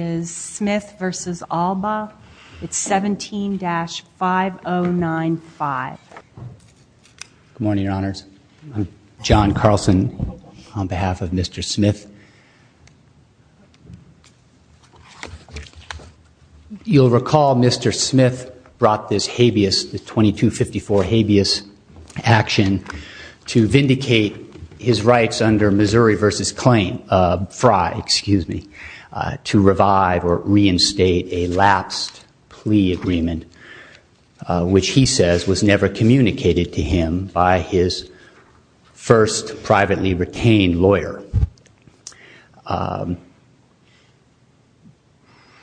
is Smith v. Allbaugh. It's 17-5095. Good morning, Your Honors. I'm John Carlson on behalf of Mr. Smith. You'll recall Mr. Smith brought this habeas, the 2254 habeas action to vindicate his rights under Missouri v. Frey to revive or reinstate a lapsed plea agreement, which he says was never communicated to him by his first privately retained lawyer.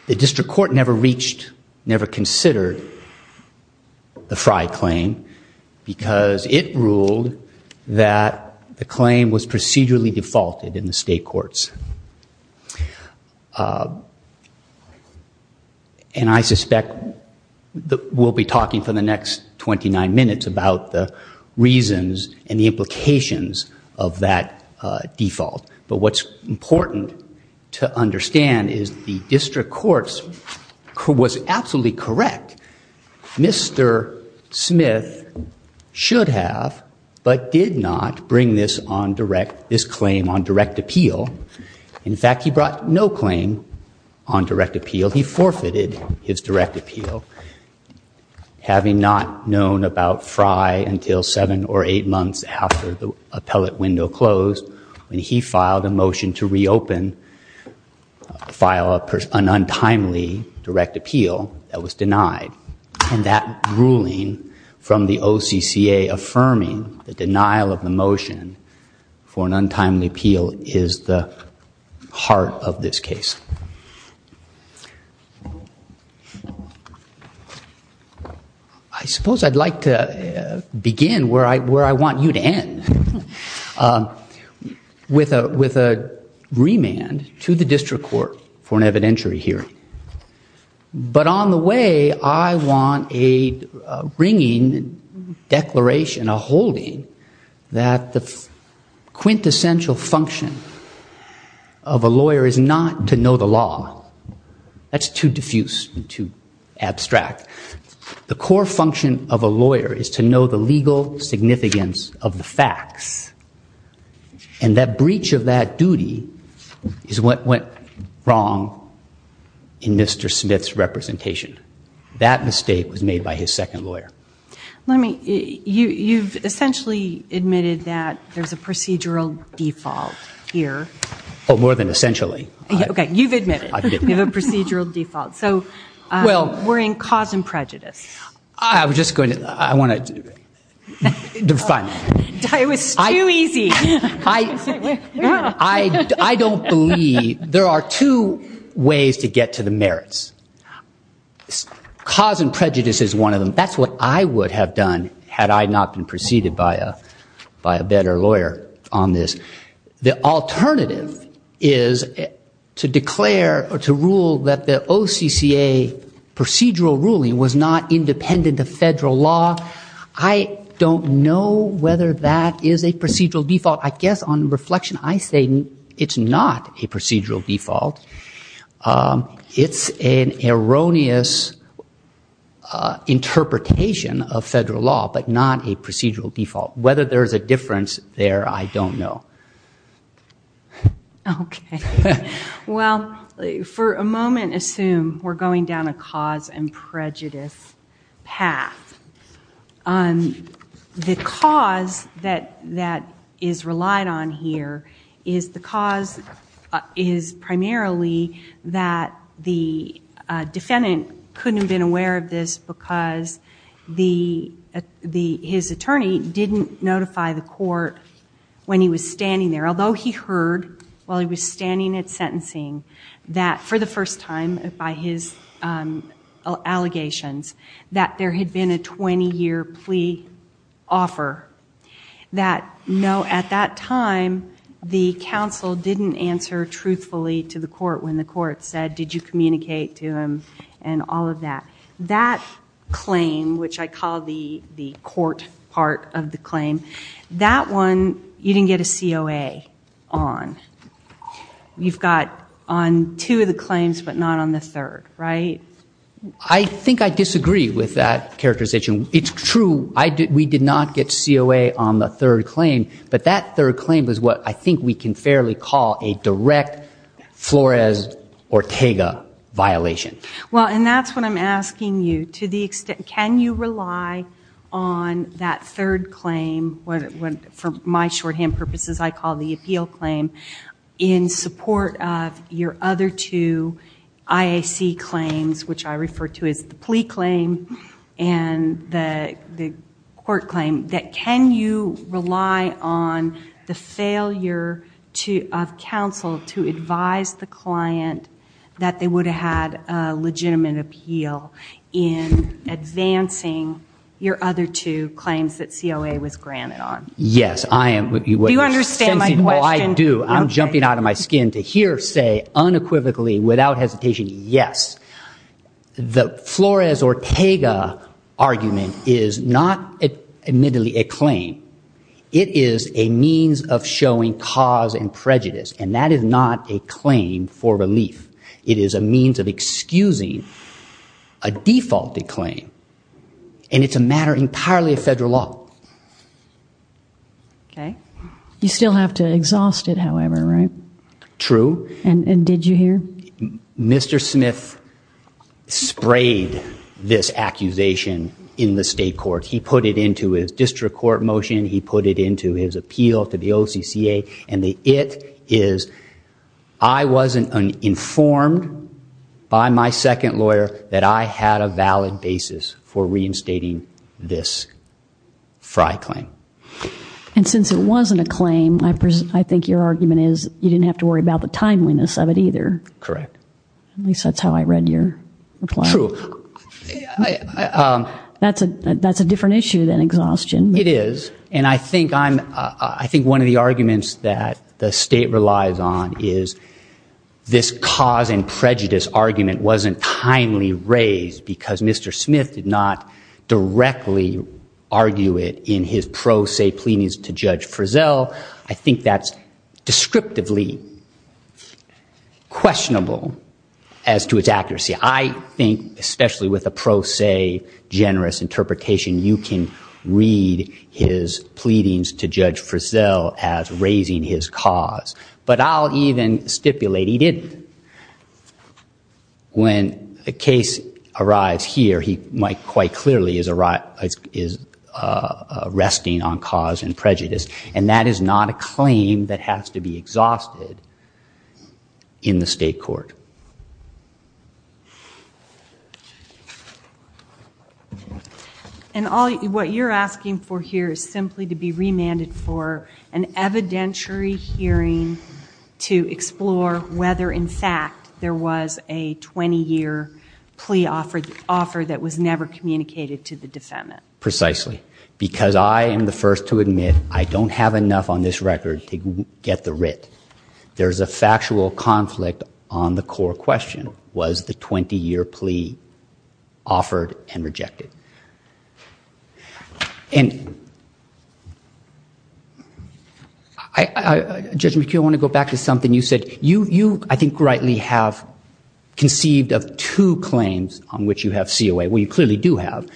The district court never reached, never considered the Frey claim because it ruled that the claim was procedurally defaulted in the state courts. And I suspect that we'll be talking for the next 29 minutes about the reasons and the implications of that default. But what's absolutely correct, Mr. Smith should have but did not bring this on direct, this claim on direct appeal. In fact, he brought no claim on direct appeal. He forfeited his direct appeal. Having not known about Frey until seven or eight months after the appellate window closed, when he filed a motion to reopen, file an untimely direct appeal, that was denied. And that ruling from the OCCA affirming the denial of the motion for an untimely appeal is the heart of this case. I suppose I'd like to begin where I want you to end, with a remand to the district court for an evidentiary hearing. But on the way, I want a ringing declaration, a holding that the quintessential function of a lawyer is not to know the law. That's too diffuse and too abstract. The core function of a lawyer is to know the legal significance of the facts. And that breach of that duty is what went wrong in Mr. Smith's representation. That mistake was made by his default. We're in cause and prejudice. I don't believe there are two ways to get to the merits. Cause and prejudice is one of them. That's what I would have done had I not been preceded by a better lawyer on this. The alternative is to declare or to rule that the OCCA procedural ruling was not independent of federal law. I don't know whether that is a procedural default. I guess on reflection, I say it's not a procedural default. It's an erroneous interpretation of federal law, but not a procedural default. Whether there's a difference there, I don't know. Okay. Well, for a moment, assume we're going down a cause and prejudice path. The cause that is relied on here is the cause is primarily that the defendant couldn't have been aware of this because his attorney didn't notify the court when he was standing there. Although he heard while he was standing at sentencing that for the first time by his allegations that there had been a 20-year plea offer, that no, at that time, the counsel didn't answer truthfully to the court when the claim, which I call the court part of the claim, that one, you didn't get a COA on. You've got on two of the claims, but not on the third, right? I think I disagree with that characterization. It's true. We did not get COA on the third claim, but that third claim was what I think we can call a direct Flores-Ortega violation. Well, and that's what I'm asking you, to the extent, can you rely on that third claim, for my shorthand purposes, I call the appeal claim, in support of your other two IAC claims, which I refer to as the plea claim and the court claim, that can you rely on the failure of counsel to advise the client that they would have had a legitimate appeal in advancing your other two claims that COA was granted on? Yes, I am. Do you understand my question? I do. I'm jumping out of my skin to hear say unequivocally, without hesitation, yes. The Flores-Ortega argument is not admittedly a claim. It is a means of showing cause and prejudice, and that is not a claim for relief. It is a means of excusing a defaulted claim, and it's a matter entirely of federal law. Okay. You still have to exhaust it, however, right? True. And did you hear? Mr. Smith sprayed this accusation in the state court. He put it into his district court motion. He put it into his appeal to the OCCA, and the it is, I wasn't informed by my second lawyer that I had a valid basis for reinstating this FRI claim. And since it wasn't a claim, I think your argument is you didn't have to worry about the timeliness of it either. Correct. At least that's how I read your reply. True. That's a different issue than exhaustion. It is, and I think one of the arguments that the state relies on is this cause and prejudice argument wasn't timely raised because Mr. Smith did not directly argue it in his pro se pleadings to Judge Frizzell. I think that's descriptively questionable as to its accuracy. I think, especially with a pro se generous interpretation, you can read his pleadings to Judge Frizzell as raising his cause. But I'll even stipulate he didn't. When a case arrives here, he might clearly is resting on cause and prejudice. And that is not a claim that has to be exhausted in the state court. And what you're asking for here is simply to be remanded for an evidentiary hearing to explore whether, in fact, there was a 20-year plea offer that was never communicated to the defendant. Precisely. Because I am the first to admit I don't have enough on this record to get the writ. There's a factual conflict on the core question. Was the 20-year plea offered and rejected? And Judge McKeon, I want to go back to something you said. You, I think, rightly have conceived of two claims on which you have COA. Well, you clearly do have.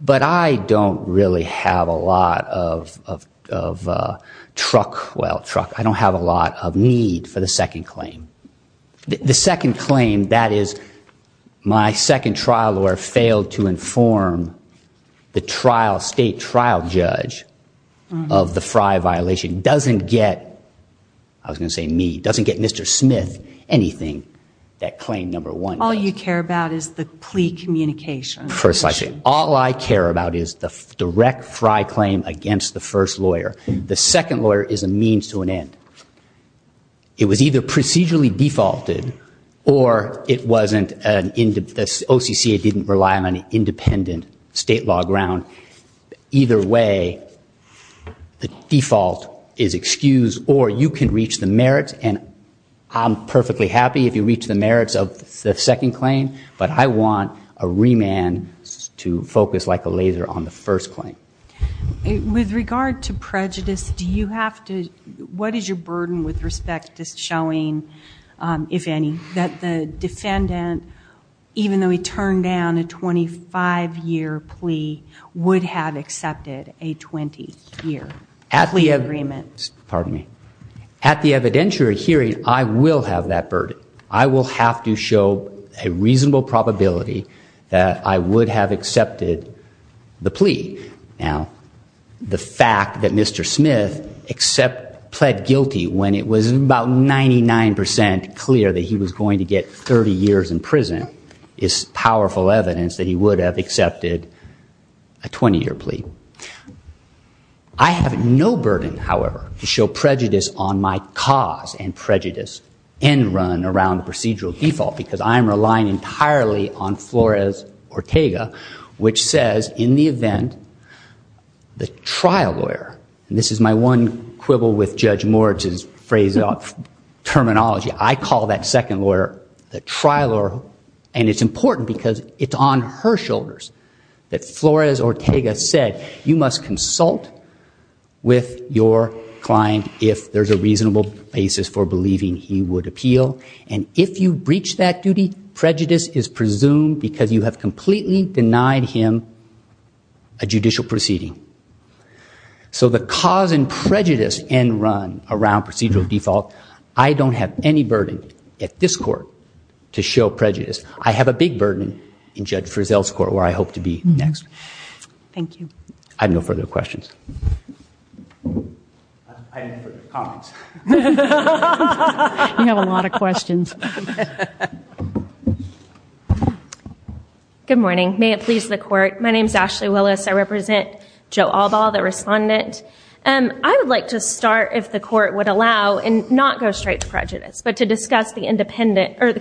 But I don't really have a lot of truck, well, truck, I don't have a lot of need for the second claim. The second claim, that is, my second trial lawyer failed to inform the trial, state trial judge, of the Frye violation, doesn't get, I was going to say me, doesn't get Mr. Smith anything that claim number one does. All you care about is the plea communication. Precisely. All I care about is the direct Frye claim against the first lawyer. The second lawyer is a means to an end. It was either procedurally defaulted or it wasn't an, OCCA didn't rely on an independent state law ground. Either way, the default is excused or you can reach the merits. And I'm perfectly happy if you reach the merits of the second claim. But I want a remand to focus like a laser on the first claim. With regard to prejudice, do you have to, what is your burden with respect to showing, if any, that the defendant, even though he turned down a 25-year plea, would have accepted a 20-year plea agreement? At the evidentiary hearing, I will have that burden. I will have to show a reasonable probability that I would have accepted the plea. Now, the fact that Mr. Smith accept, pled guilty when it was about 99% clear that he was going to get 30 years in prison is powerful evidence that he would have accepted a 20-year plea. I have no burden, however, to show prejudice on my cause and prejudice end run around procedural default because I'm relying entirely on Flores Ortega, which says in the event, the trial lawyer, and this is my one quibble with Judge Moritz's phrase of terminology. I call that second lawyer the trial lawyer. And it's important because it's on her shoulders that Flores Ortega said you must consult with your client if there's a reasonable basis for believing he would appeal. And if you breach that duty, prejudice is presumed because you have completely denied him a judicial proceeding. So the cause and prejudice end run around procedural default, I don't have any burden at this court to show prejudice. I have a big burden in Judge Frizzell's court, where I hope to be next. Thank you. I have no further questions. I have no further comments. You have a lot of questions. Good morning. May it please the court. My name is Ashley Willis. I represent Joe Albaugh, the respondent. I would like to start, if the court would allow, and not go straight to the cause and prejudice, but to discuss the independent of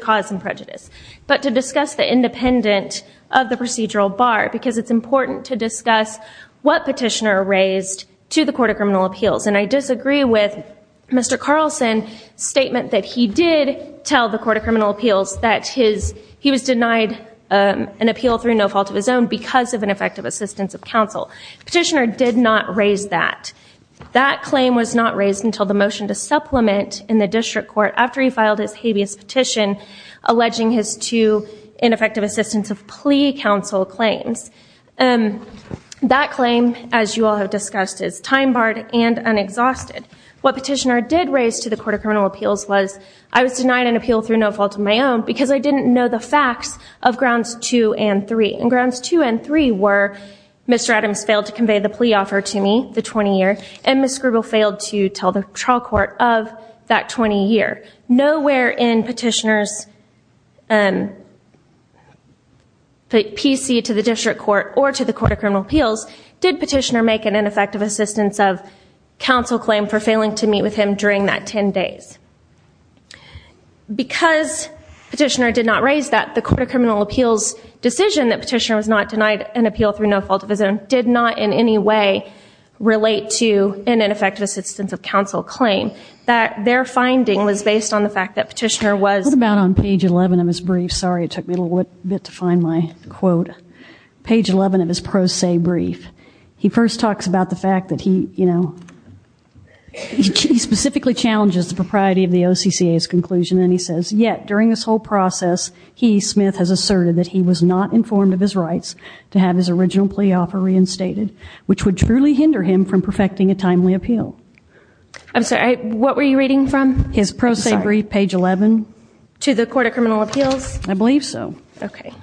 the procedural bar. Because it's important to discuss what petitioner raised to the Court of Criminal Appeals. And I disagree with Mr. Carlson's statement that he did tell the Court of Criminal Appeals that he was denied an appeal through no fault of his own because of ineffective assistance of counsel. The petitioner did not raise that. That claim was not raised until the motion to supplement in the district court after he filed his habeas petition alleging his two ineffective assistance of plea counsel claims. That claim, as you all have discussed, is time barred and unexhausted. What petitioner did raise to the Court of Criminal Appeals was, I was denied an appeal through no fault of my own because I didn't know the facts of grounds two and three. And grounds two and three were, Mr. Adams failed to convey the plea offer to me, the 20 year, and Ms. Grubel failed to tell the 20 year. Nowhere in petitioner's PC to the district court or to the Court of Criminal Appeals did petitioner make an ineffective assistance of counsel claim for failing to meet with him during that 10 days. Because petitioner did not raise that, the Court of Criminal Appeals decision that petitioner was not denied an appeal through no fault of his own did not in any way relate to an ineffective assistance of counsel claim. That their finding was based on the fact that petitioner was... What about on page 11 of his brief? Sorry, it took me a little bit to find my quote. Page 11 of his pro se brief. He first talks about the fact that he, you know, he specifically challenges the propriety of the OCCA's conclusion and he says, yet during this whole process, he, Smith, has asserted that he was not informed of his rights to have his original plea offer reinstated, which would truly hinder him from perfecting a timely appeal. I'm sorry, what were you reading from? His pro se brief, page 11. To the Court of Criminal Appeals? I believe so. Okay.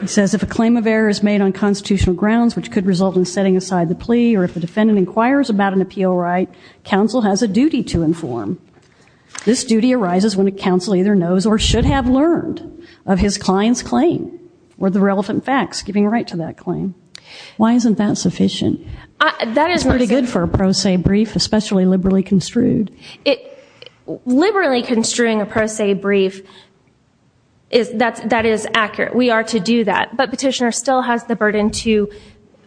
He says, if a claim of error is made on constitutional grounds which could result in setting aside the plea or if the defendant inquires about an appeal right, counsel has a duty to inform. This duty arises when a counsel either knows or should have learned of his client's claim or the relevant facts giving right to that claim. Why isn't that sufficient? That is pretty good for a pro se brief, especially liberally construed. Liberally construing a pro se brief, that is accurate. We are to do that. But petitioner still has the burden to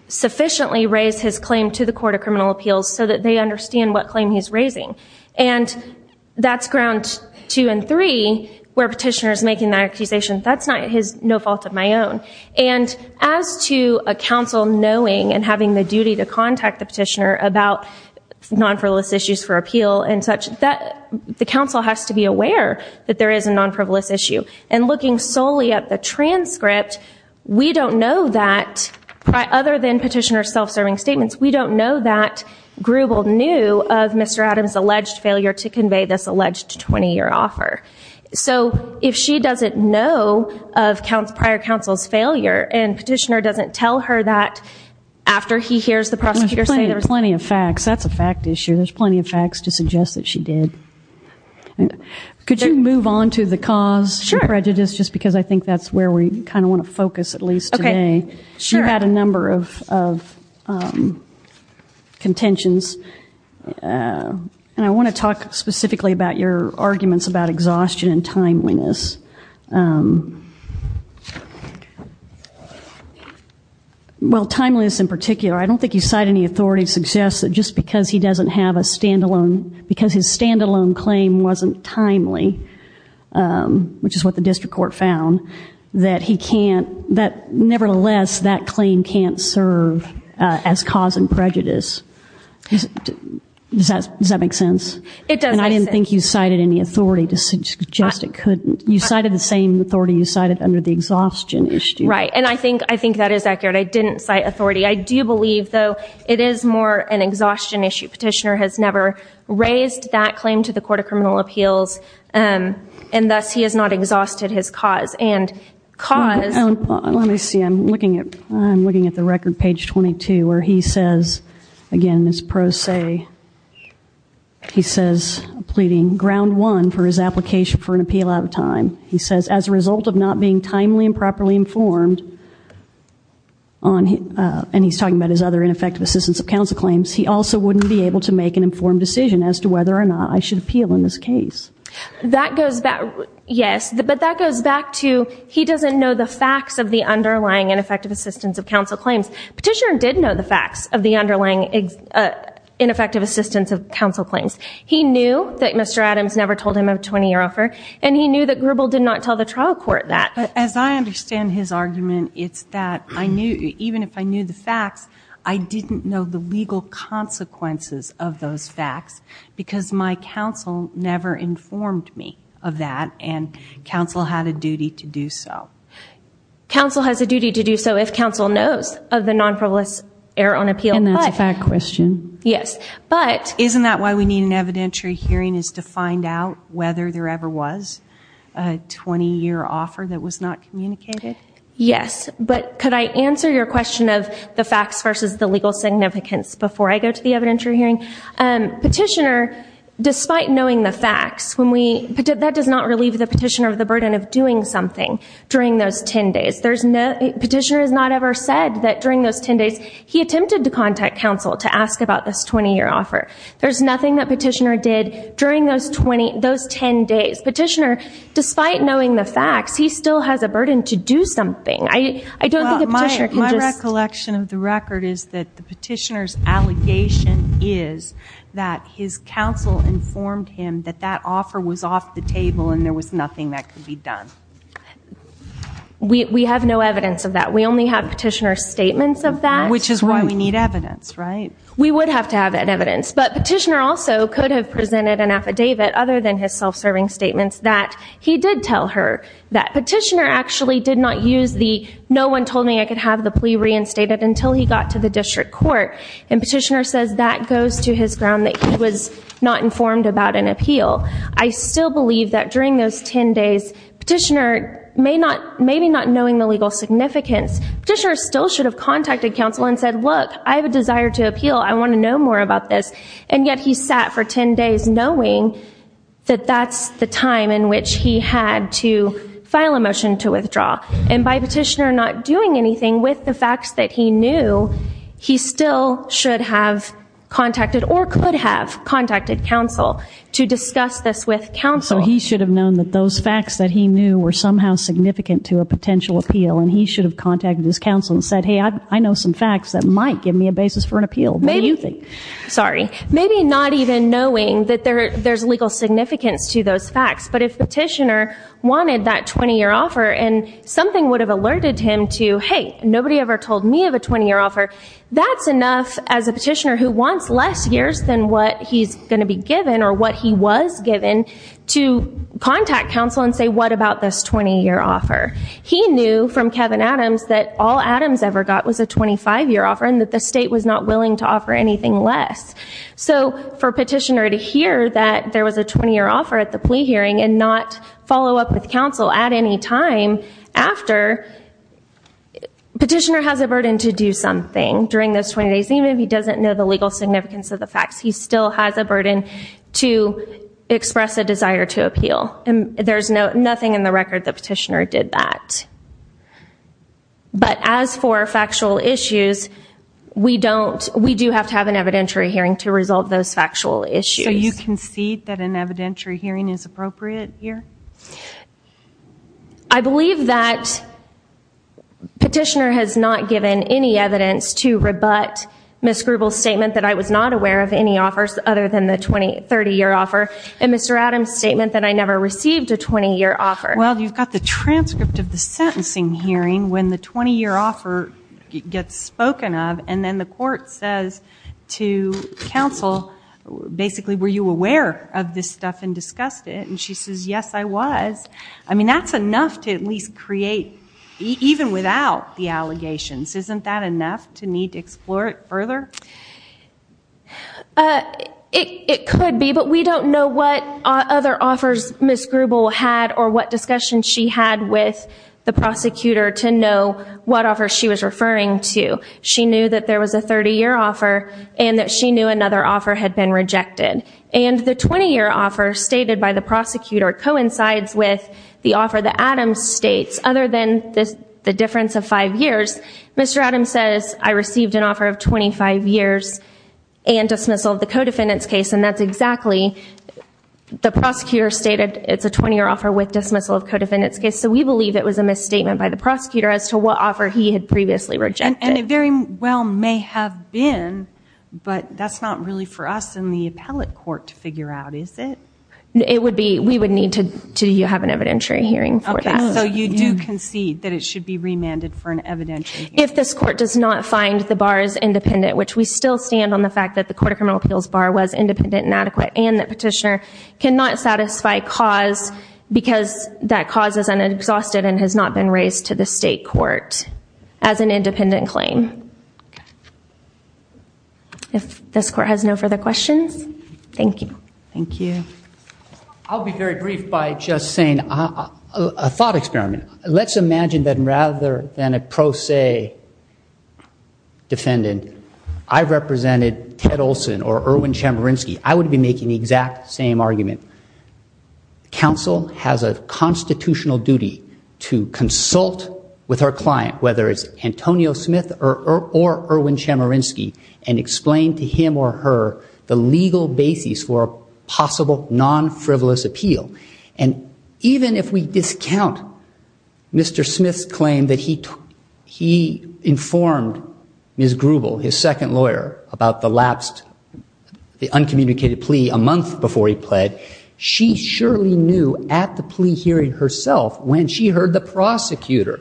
sufficiently raise his claim to the Court of Criminal Appeals so that they understand what claim he's raising. And that's grounds two and three where petitioner making that accusation, that's not his, no fault of my own. And as to a counsel knowing and having the duty to contact the petitioner about non-frivolous issues for appeal and such, the counsel has to be aware that there is a non-frivolous issue. And looking solely at the transcript, we don't know that, other than petitioner's self-serving statements, we don't know that Grubel knew of Mr. Adams' alleged failure to convey this alleged 20-year offer. So if she doesn't know of prior counsel's failure and petitioner doesn't tell her that after he hears the prosecutor say there's... Plenty of facts. That's a fact issue. There's plenty of facts to suggest that she did. Could you move on to the cause prejudice just because I think that's where we kind of want to focus at least today. You had a number of contentions. And I want to talk specifically about your arguments about exhaustion and timeliness. Well, timeliness in particular, I don't think you cite any authority to suggest that just because he doesn't have a standalone, because his standalone claim wasn't timely, which is what the district court found, that he can't, that nevertheless, that claim can't serve as cause and prejudice. Does that make sense? It does. And I didn't think you cited any authority to suggest it couldn't. You cited the same authority you cited under the exhaustion issue. Right. And I think that is accurate. I didn't cite authority. I do believe, though, it is more an exhaustion issue. Petitioner has never raised that claim to the Court of Criminal Appeals and thus he has not exhausted his cause. And cause... Let me see. I'm looking at the record, page 22, where he says, again, this pro se, he says, pleading, ground one for his application for an appeal out of time. He says, as a result of not being timely and properly informed, and he's talking about his other ineffective assistance of counsel claims, he also wouldn't be able to make an informed decision as to whether or not I should appeal in this case. That goes back, yes, but that goes back to he doesn't know the facts of the underlying ineffective assistance of counsel claims. Petitioner did know the facts of the underlying ineffective assistance of counsel claims. He knew that Mr. Adams never told him of a 20-year offer and he knew that Grubel did not tell the trial court that. As I understand his argument, it's that I knew, even if I knew the facts, I didn't know the legal consequences of those facts because my counsel never informed me of that and counsel had a duty to do so. Counsel has a duty to do so if counsel knows of the nonproliferous error on appeal. That's a fact question. Isn't that why we need an evidentiary hearing is to find out whether there ever was a 20-year offer that was not communicated? Yes, but could I answer your question of the facts versus the legal significance before I go to the evidentiary hearing? Petitioner, despite knowing the facts, that does not relieve the petitioner of the burden of doing something during those 10 days. Petitioner has not ever said that during those 10 days, he attempted to contact counsel to ask about this 20-year offer. There's nothing that petitioner did during those 10 days. Petitioner, despite knowing the facts, he still has a burden to do something. My recollection of the record is that the petitioner's allegation is that his counsel informed him that that offer was off the table and there was nothing that could be done. We have no evidence of that. We only have petitioner's statements of that. Which is why we need evidence, right? We would have to have that evidence, but petitioner also could have presented an affidavit other than his self-serving statements that he did tell her that. Petitioner actually did not use the no one told me I could have the plea reinstated until he got to the district court. And petitioner says that goes to his ground that he was not informed about an appeal. I still believe that during those 10 days, petitioner, maybe not knowing the legal significance, petitioner still should have contacted counsel and said, look, I have a desire to appeal. I want to know more about this. And yet he sat for 10 days knowing that that's the time in which he had to file a motion to withdraw. And by petitioner not doing anything with the facts that he knew, he still should have contacted or could have contacted counsel to discuss this with counsel. So he should have known that those facts that he knew were somehow significant to a potential appeal and he should have contacted his counsel and said, hey, I know some facts that might give me a basis for an appeal. What do you think? Sorry. Maybe not even knowing that there's legal significance to those facts. But if petitioner wanted that 20 year offer and something would have alerted him to, hey, nobody ever told me a 20 year offer, that's enough as a petitioner who wants less years than what he's going to be given or what he was given to contact counsel and say, what about this 20 year offer? He knew from Kevin Adams that all Adams ever got was a 25 year offer and that the state was not willing to offer anything less. So for petitioner to hear that there was a 20 year offer at the time, petitioner has a burden to do something during those 20 days. Even if he doesn't know the legal significance of the facts, he still has a burden to express a desire to appeal. And there's nothing in the record that petitioner did that. But as for factual issues, we do have to have an evidentiary hearing to resolve those factual issues. So you concede that an evidentiary hearing is appropriate here? I believe that petitioner has not given any evidence to rebut Ms. Grubel's statement that I was not aware of any offers other than the 20, 30 year offer and Mr. Adams' statement that I never received a 20 year offer. Well, you've got the transcript of the sentencing hearing when the 20 year offer gets spoken of and then the court says to counsel, basically, were you aware of this stuff and discussed it? And she says, yes, I was. I mean, that's enough to at least create, even without the allegations, isn't that enough to need to explore it further? It could be, but we don't know what other offers Ms. Grubel had or what discussion she had with the prosecutor to know what offer she was referring to. She knew that there was a 30 year offer and that she knew another offer had been rejected. And the 20 year offer stated by the prosecutor coincides with the offer that Adams states. Other than the difference of five years, Mr. Adams says, I received an offer of 25 years and dismissal of the co-defendant's case. And that's exactly, the prosecutor stated it's a 20 year offer with dismissal of co-defendant's case. So we believe it was a misstatement by the prosecutor as to what offer he had previously rejected. And it very well may have been, but that's not really for us in the appellate court to figure out, is it? It would be, we would need to have an evidentiary hearing for that. So you do concede that it should be remanded for an evidentiary hearing? If this court does not find the bars independent, which we still stand on the fact that the Court of Criminal Appeals bar was independent and adequate, and that petitioner cannot satisfy cause because that cause is exhausted and has not been raised to the state court as an independent claim. If this court has no further questions, thank you. Thank you. I'll be very brief by just saying a thought experiment. Let's imagine that rather than a pro se defendant, I represented Ted Olson or Erwin Chemerinsky. I would be making the exact same argument. The council has a constitutional duty to consult with her client, whether it's Antonio Smith or Erwin Chemerinsky, and explain to him or her the legal basis for a possible non-frivolous appeal. And even if we discount Mr. Smith's claim that he informed Ms. Grubel, his second lawyer, about the lapsed, uncommunicated plea a month before he pled, she surely knew at the plea hearing herself when she heard the prosecutor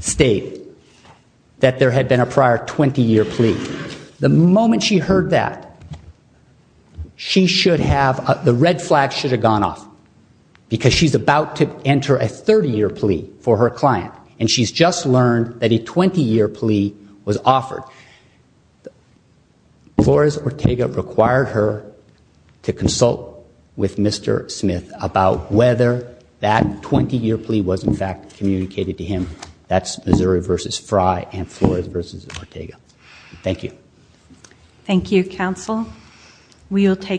state that there had been a prior 20-year plea. The moment she heard that, the red flag should have gone off because she's about to enter a 30-year plea for her client, and she's just learned that a 20-year plea was offered. Flores-Ortega required her to consult with Mr. Smith about whether that 20-year plea was, in fact, communicated to him. That's Missouri v. Fry and Flores v. Ortega. Thank you. Thank you, counsel. We will take